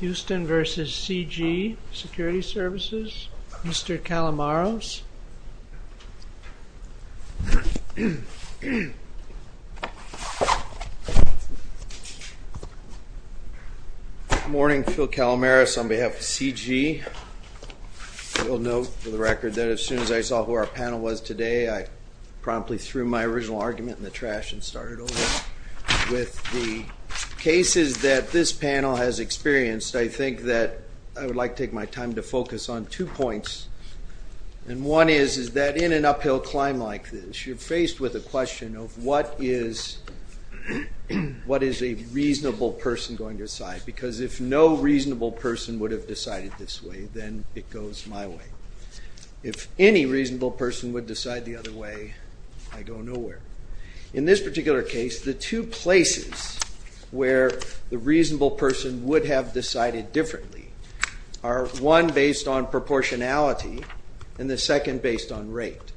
Houston v. C.G. Security Services, Mr. Calamaros. Good morning, Phil Calamaros on behalf of C.G. You'll note for the record that as soon as I saw who our panel was today I promptly threw my original argument in the trash and started over. With the cases that this panel has experienced, I think that I would like to take my time to focus on two points. And one is that in an uphill climb like this, you're faced with a question of what is a reasonable person going to decide? Because if no reasonable person would have decided this way, then it goes my way. If any reasonable person would decide the other way, I go nowhere. In this particular case, the two places where the reasonable person would have decided differently are one based on proportionality and the second based on rate.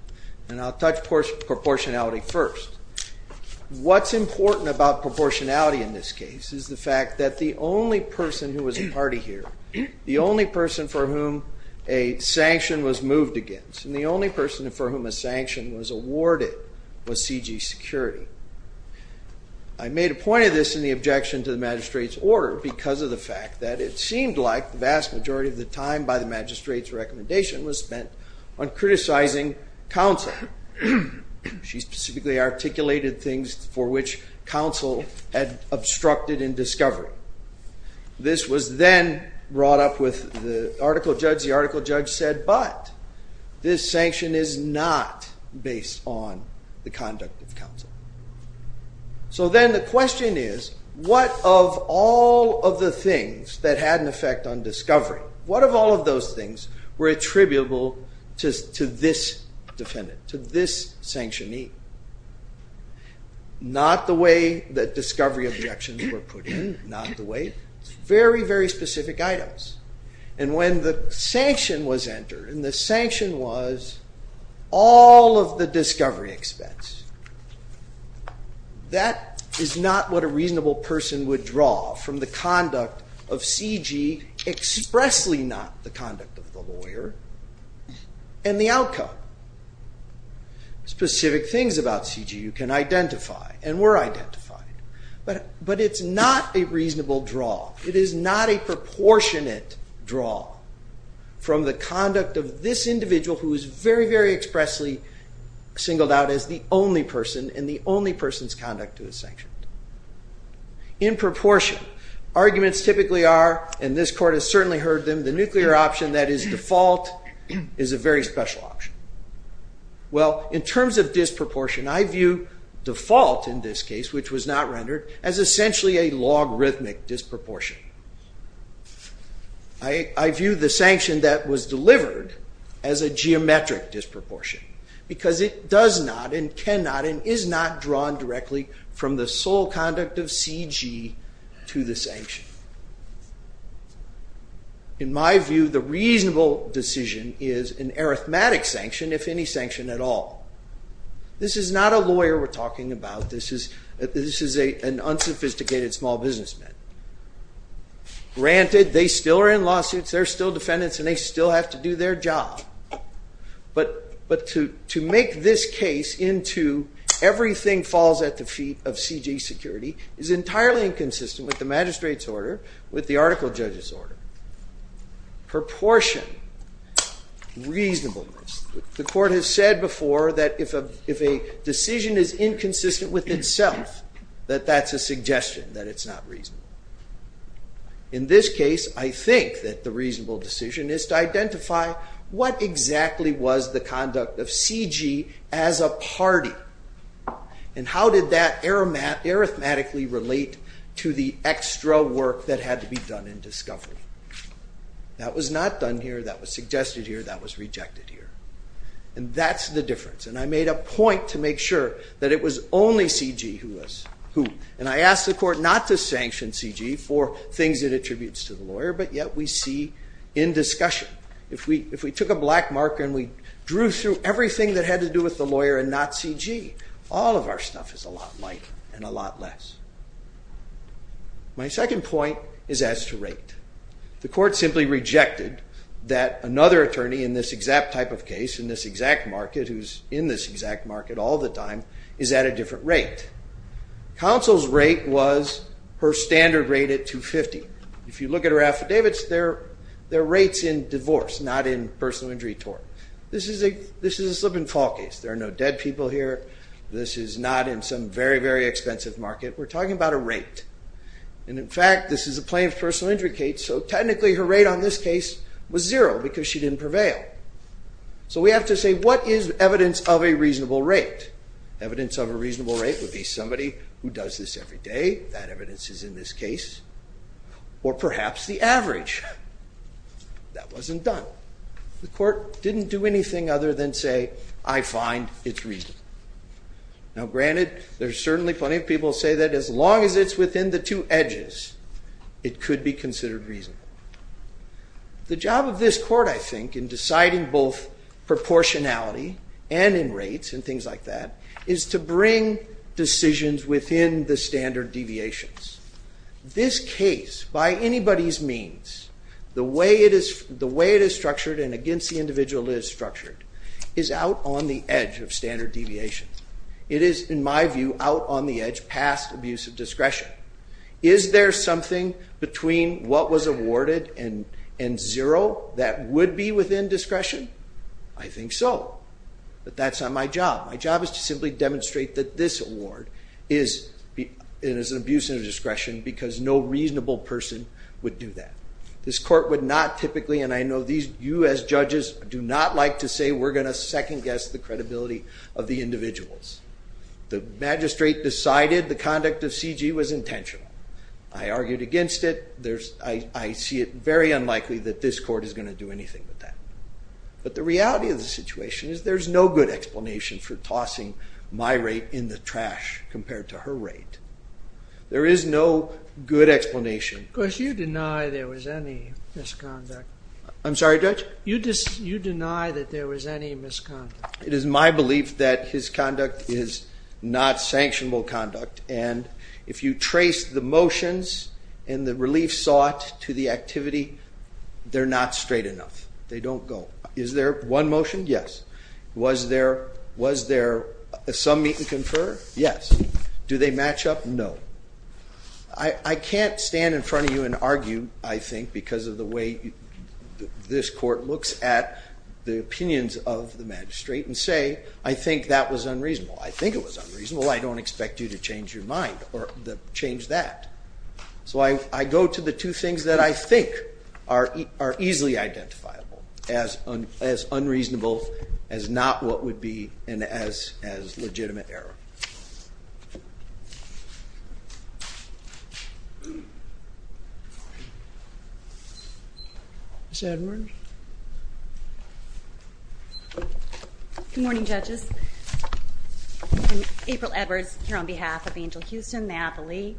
And I'll touch proportionality first. What's important about proportionality in this case is the fact that the only person who was a party here, the only person for whom a sanction was moved against, and the only person for whom a sanction was awarded was C.G. Security. I made a point of this in the objection to the magistrate's order because of the fact that it seemed like the vast majority of the time by the magistrate's recommendation was spent on criticizing counsel. She specifically articulated things for which counsel had obstructed in discovery. This was then brought up with the article judge. The article judge said, but this sanction is not based on the conduct of counsel. So then the question is, what of all of the things that had an effect on discovery, what of all of those things were attributable to this defendant, to this sanctionee? Not the way that discovery objections were put in, not the way. Very, very specific items. And when the sanction was entered, and the sanction was all of the discovery expense, that is not what a reasonable person would draw from the conduct of C.G., expressly not the conduct of the lawyer, and the outcome. Specific things about C.G. you can identify, and were identified. But it's not a reasonable draw. It is not a proportionate draw from the conduct of this individual who is very, very expressly singled out as the only person, and the only person's conduct who is sanctioned. In proportion, arguments typically are, and this court has certainly heard them, the nuclear option that is default is a very special option. Well, in terms of disproportion, I view default in this case, which was not rendered, as essentially a logarithmic disproportion. I view the sanction that was delivered as a geometric disproportion. Because it does not, and cannot, and is not drawn directly from the sole conduct of C.G. to the sanction. In my view, the reasonable decision is an arithmetic sanction, if any sanction at all. This is not a lawyer we're talking about. This is an unsophisticated small businessman. Granted, they still are in lawsuits, they're still defendants, and they still have to do their job. But to make this case into everything falls at the feet of C.G. security is entirely inconsistent with the magistrate's order, with the article judge's order. Proportion, reasonableness. The court has said before that if a decision is inconsistent with itself, that that's a suggestion, that it's not reasonable. In this case, I think that the reasonable decision is to identify what exactly was the conduct of C.G. as a party. And how did that arithmetically relate to the extra work that had to be done in discovery? That was not done here, that was suggested here, that was rejected here. And that's the difference. And I made a point to make sure that it was only C.G. who was who. And I asked the court not to sanction C.G. for things it attributes to the lawyer, but yet we see in discussion. If we took a black marker and we drew through everything that had to do with the lawyer and not C.G., all of our stuff is a lot lighter and a lot less. My second point is as to rate. The court simply rejected that another attorney in this exact type of case, in this exact market, who's in this exact market all the time, is at a different rate. Counsel's rate was her standard rate at $250. If you look at her affidavits, they're rates in divorce, not in personal injury tort. This is a slip and fall case. There are no dead people here. This is not in some very, very expensive market. We're talking about a rate. And in fact, this is a plain personal injury case, so technically her rate on this case was zero because she didn't prevail. So we have to say, what is evidence of a reasonable rate? Evidence of a reasonable rate would be somebody who does this every day. That evidence is in this case. Or perhaps the average. That wasn't done. The court didn't do anything other than say, I find it reasonable. Now, granted, there's certainly plenty of people who say that as long as it's within the two edges, it could be considered reasonable. The job of this court, I think, in deciding both proportionality and in rates and things like that, is to bring decisions within the standard deviations. This case, by anybody's means, the way it is structured and against the individual it is structured, is out on the edge of standard deviation. It is, in my view, out on the edge past abusive discretion. Is there something between what was awarded and zero that would be within discretion? I think so. But that's not my job. My job is to simply demonstrate that this award is an abuse of discretion because no reasonable person would do that. This court would not typically, and I know you as judges do not like to say we're going to second guess the credibility of the individuals. The magistrate decided the conduct of C.G. was intentional. I argued against it. I see it very unlikely that this court is going to do anything with that. But the reality of the situation is there's no good explanation for tossing my rate in the trash compared to her rate. There is no good explanation. Of course, you deny there was any misconduct. I'm sorry, Judge? You deny that there was any misconduct. It is my belief that his conduct is not sanctionable conduct, and if you trace the motions and the relief sought to the activity, they're not straight enough. They don't go. Is there one motion? Yes. Was there some meet and confer? Yes. Do they match up? No. I can't stand in front of you and argue, I think, because of the way this court looks at the opinions of the magistrate and say I think that was unreasonable. I think it was unreasonable. I don't expect you to change your mind or change that. So I go to the two things that I think are easily identifiable as unreasonable, as not what would be, and as legitimate error. Ms. Edwards? Good morning, judges. I'm April Edwards here on behalf of Angel Houston, Napoli,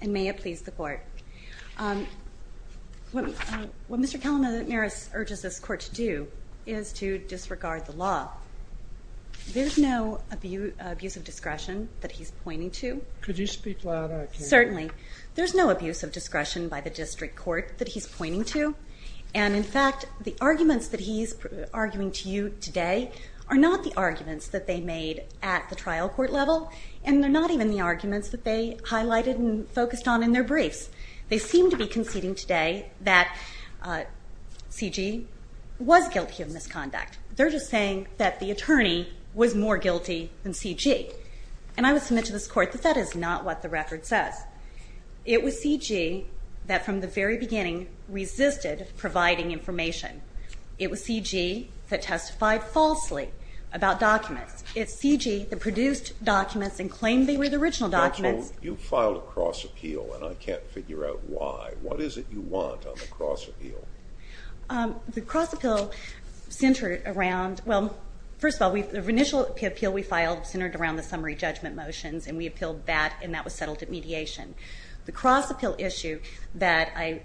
and may it please the court. What Mr. Kalamaris urges this court to do is to disregard the law. There's no abuse of discretion that he's pointing to. Could you speak louder? Certainly. There's no abuse of discretion by the district court that he's pointing to. And, in fact, the arguments that he's arguing to you today are not the arguments that they made at the trial court level, and they're not even the arguments that they highlighted and focused on in their briefs. They seem to be conceding today that C.G. was guilty of misconduct. They're just saying that the attorney was more guilty than C.G. And I would submit to this court that that is not what the record says. It was C.G. that, from the very beginning, resisted providing information. It was C.G. that testified falsely about documents. It's C.G. that produced documents and claimed they were the original documents. Counsel, you filed a cross appeal, and I can't figure out why. What is it you want on the cross appeal? The cross appeal centered around, well, first of all, the initial appeal we filed centered around the summary judgment motions, and we appealed that, and that was settled at mediation. The cross appeal issue that I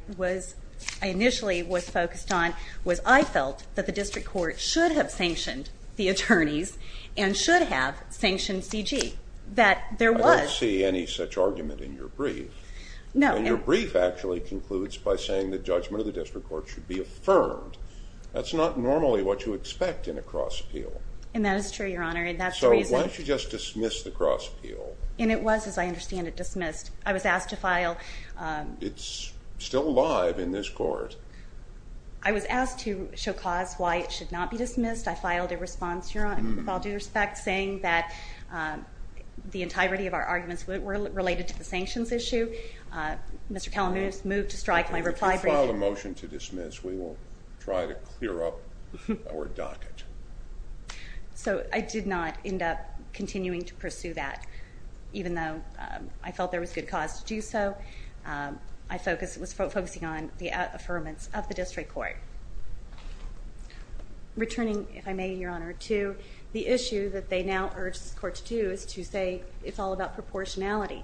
initially was focused on was I felt that the district court should have sanctioned the attorneys and should have sanctioned C.G. I don't see any such argument in your brief. No. And your brief actually concludes by saying the judgment of the district court should be affirmed. That's not normally what you expect in a cross appeal. And that is true, Your Honor, and that's the reason. So why don't you just dismiss the cross appeal? And it was, as I understand it, dismissed. I was asked to file… It's still alive in this court. I was asked to show cause why it should not be dismissed. I filed a response, Your Honor, with all due respect, saying that the entirety of our arguments were related to the sanctions issue. Mr. Kalamudis moved to strike my reply brief. If you file a motion to dismiss, we will try to clear up our docket. So I did not end up continuing to pursue that. Even though I felt there was good cause to do so, I was focusing on the affirmance of the district court. Returning, if I may, Your Honor, to the issue that they now urge this court to do is to say it's all about proportionality.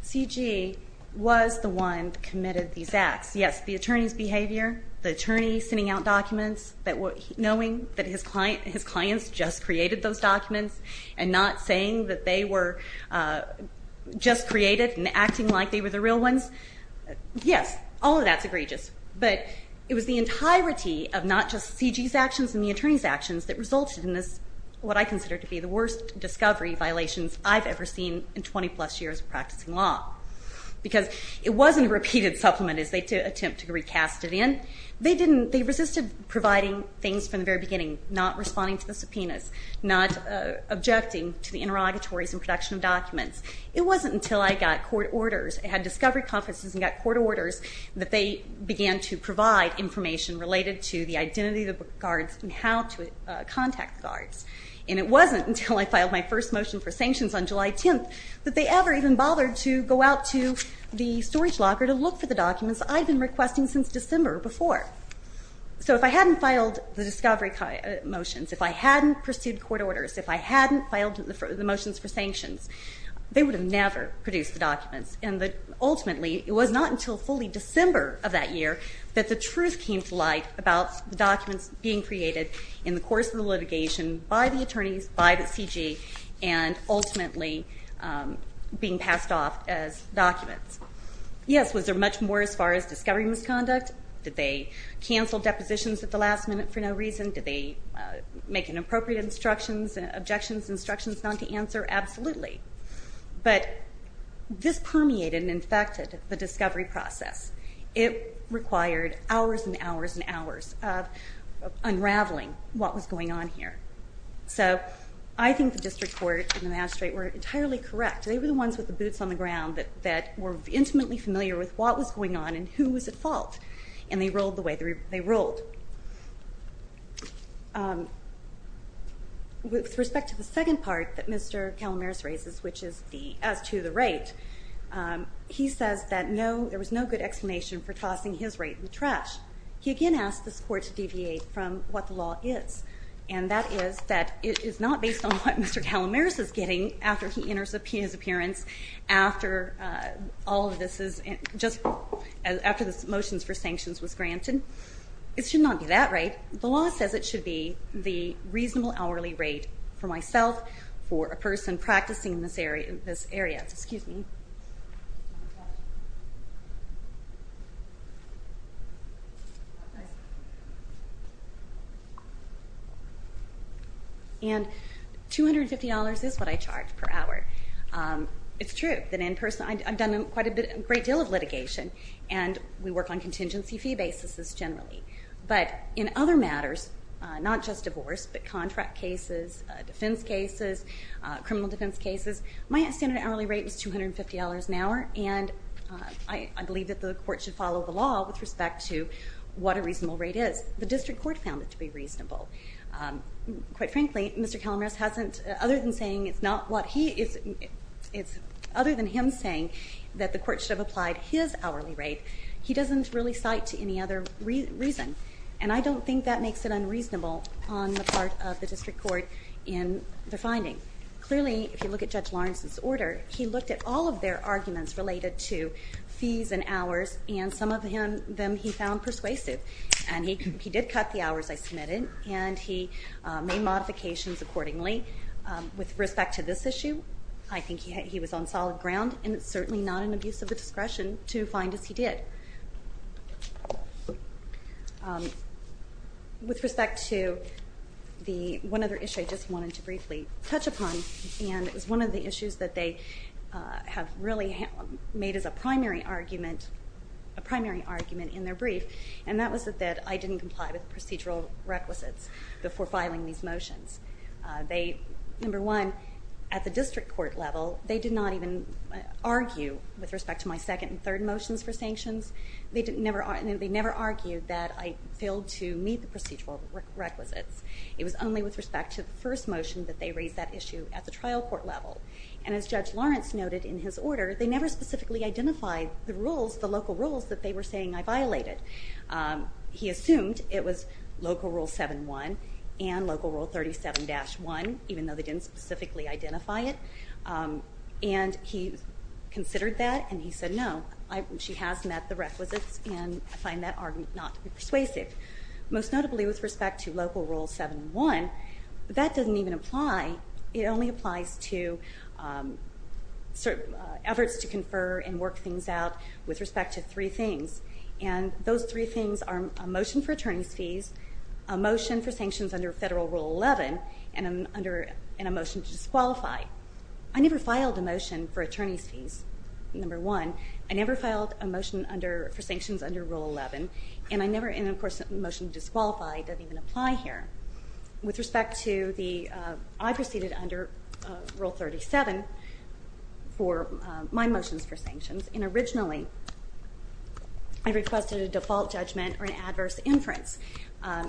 C.G. was the one that committed these acts. Yes, the attorney's behavior, the attorney sending out documents knowing that his clients just created those documents and not saying that they were just created and acting like they were the real ones. Yes, all of that's egregious. But it was the entirety of not just C.G.'s actions and the attorney's actions that resulted in this, what I consider to be the worst discovery violations I've ever seen in 20-plus years of practicing law because it wasn't a repeated supplement as they attempt to recast it in. They resisted providing things from the very beginning, not responding to the subpoenas, not objecting to the interrogatories and production of documents. It wasn't until I got court orders, had discovery conferences and got court orders that they began to provide information related to the identity of the guards and how to contact the guards. And it wasn't until I filed my first motion for sanctions on July 10th that they ever even bothered to go out to the storage locker to look for the documents I'd been requesting since December before. So if I hadn't filed the discovery motions, if I hadn't pursued court orders, if I hadn't filed the motions for sanctions, they would have never produced the documents. And ultimately, it was not until fully December of that year that the truth came to light about the documents being created in the course of the litigation by the attorneys, by the C.G., and ultimately being passed off as documents. Yes, was there much more as far as discovery misconduct? Did they cancel depositions at the last minute for no reason? Did they make inappropriate instructions, objections, instructions not to answer? Absolutely. But this permeated and infected the discovery process. It required hours and hours and hours of unraveling what was going on here. So I think the district court and the magistrate were entirely correct. They were the ones with the boots on the ground that were intimately familiar with what was going on and who was at fault, and they rolled the way they rolled. With respect to the second part that Mr. Calamares raises, which is as to the rate, he says that there was no good explanation for tossing his rate in the trash. He again asked this court to deviate from what the law is, and that is that it is not based on what Mr. Calamares is getting after he enters his appearance, after all of this is just after the motions for sanctions was granted. It should not be that rate. The law says it should be the reasonable hourly rate for myself, for a person practicing in this area. Yes, excuse me. And $250 is what I charge per hour. It's true that in person I've done quite a great deal of litigation, and we work on contingency fee basis generally. But in other matters, not just divorce, but contract cases, defense cases, criminal defense cases, my standard hourly rate was $250 an hour, and I believe that the court should follow the law with respect to what a reasonable rate is. The district court found it to be reasonable. Quite frankly, Mr. Calamares, other than him saying that the court should have applied his hourly rate, he doesn't really cite to any other reason, and I don't think that makes it unreasonable on the part of the district court in the finding. Clearly, if you look at Judge Lawrence's order, he looked at all of their arguments related to fees and hours, and some of them he found persuasive. And he did cut the hours I submitted, and he made modifications accordingly. With respect to this issue, I think he was on solid ground, and it's certainly not an abuse of the discretion to find as he did. With respect to the one other issue I just wanted to briefly touch upon, and it was one of the issues that they have really made as a primary argument in their brief, and that was that I didn't comply with procedural requisites before filing these motions. Number one, at the district court level, they did not even argue with respect to my second and third motions for sanctions. They never argued that I failed to meet the procedural requisites. It was only with respect to the first motion that they raised that issue at the trial court level. And as Judge Lawrence noted in his order, they never specifically identified the local rules that they were saying I violated. He assumed it was Local Rule 7-1 and Local Rule 37-1, even though they didn't specifically identify it. And he considered that, and he said, no, she has met the requisites, and I find that argument not to be persuasive. Most notably with respect to Local Rule 7-1, that doesn't even apply. It only applies to efforts to confer and work things out with respect to three things, a motion for sanctions under Federal Rule 11 and a motion to disqualify. I never filed a motion for attorney's fees, number one. I never filed a motion for sanctions under Rule 11, and of course a motion to disqualify doesn't even apply here. With respect to the, I proceeded under Rule 37 for my motions for sanctions, and originally I requested a default judgment or an adverse inference.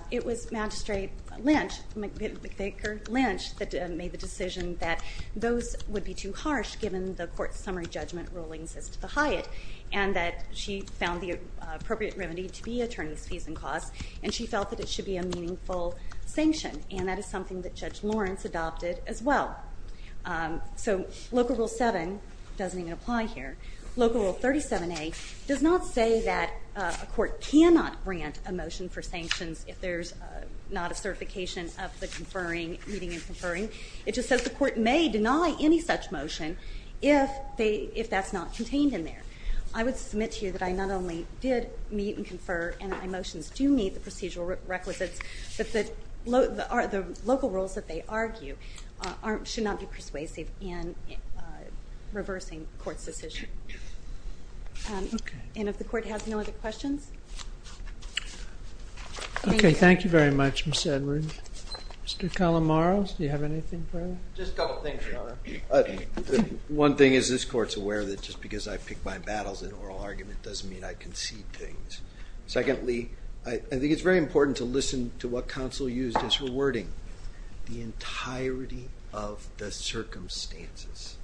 It was Magistrate Lynch, McVicker Lynch, that made the decision that those would be too harsh given the court's summary judgment rulings as to the Hyatt, and that she found the appropriate remedy to be attorney's fees and costs, and she felt that it should be a meaningful sanction, and that is something that Judge Lawrence adopted as well. So Local Rule 7 doesn't even apply here. Local Rule 37A does not say that a court cannot grant a motion for sanctions if there's not a certification of the conferring, meeting and conferring. It just says the court may deny any such motion if that's not contained in there. I would submit to you that I not only did meet and confer, and my motions do meet the procedural requisites, but the local rules that they argue should not be persuasive in reversing the court's decision. And if the court has no other questions? Okay, thank you very much, Ms. Edward. Mr. Colomaro, do you have anything further? Just a couple of things, Your Honor. One thing is this court's aware that just because I pick my battles in oral argument doesn't mean I concede things. Secondly, I think it's very important to listen to what counsel used as rewarding, the entirety of the circumstances.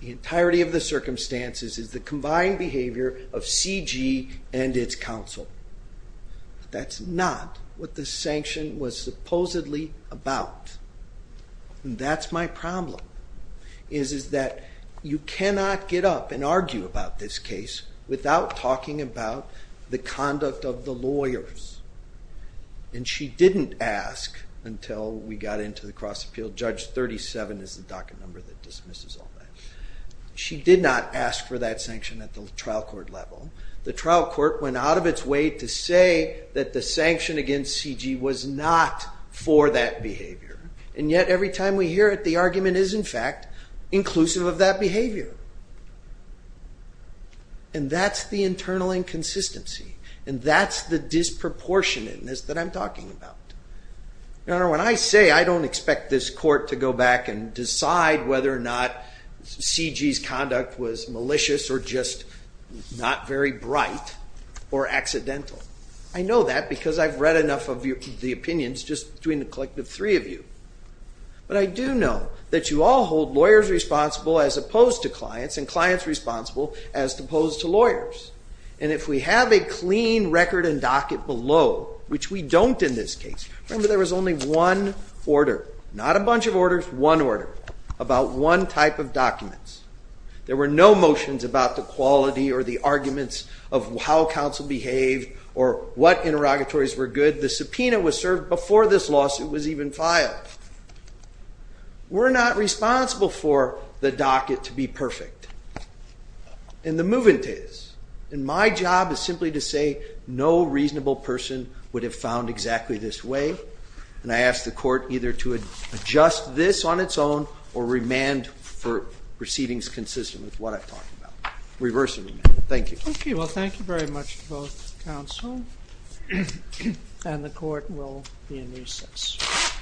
The entirety of the circumstances is the combined behavior of CG and its counsel. That's not what the sanction was supposedly about. And that's my problem, is that you cannot get up and argue about this case without talking about the conduct of the lawyers. And she didn't ask until we got into the cross-appeal. Judge 37 is the docket number that dismisses all that. She did not ask for that sanction at the trial court level. The trial court went out of its way to say that the sanction against CG was not for that behavior. And yet every time we hear it, the argument is, in fact, inclusive of that behavior. And that's the internal inconsistency. And that's the disproportionateness that I'm talking about. Your Honor, when I say I don't expect this court to go back and decide whether or not CG's conduct was malicious or just not very bright or accidental, I know that because I've read enough of the opinions just between the collective three of you. But I do know that you all hold lawyers responsible as opposed to clients and clients responsible as opposed to lawyers. And if we have a clean record and docket below, which we don't in this case, remember there was only one order, not a bunch of orders, one order, about one type of documents. There were no motions about the quality or the arguments of how counsel behaved or what interrogatories were good. The subpoena was served before this lawsuit was even filed. We're not responsible for the docket to be perfect. And the movement is. And my job is simply to say no reasonable person would have found exactly this way. And I ask the court either to adjust this on its own or remand for proceedings consistent with what I've talked about. Reverse remand. Thank you. Okay, well, thank you very much to both counsel. And the court will be in recess. Thank you.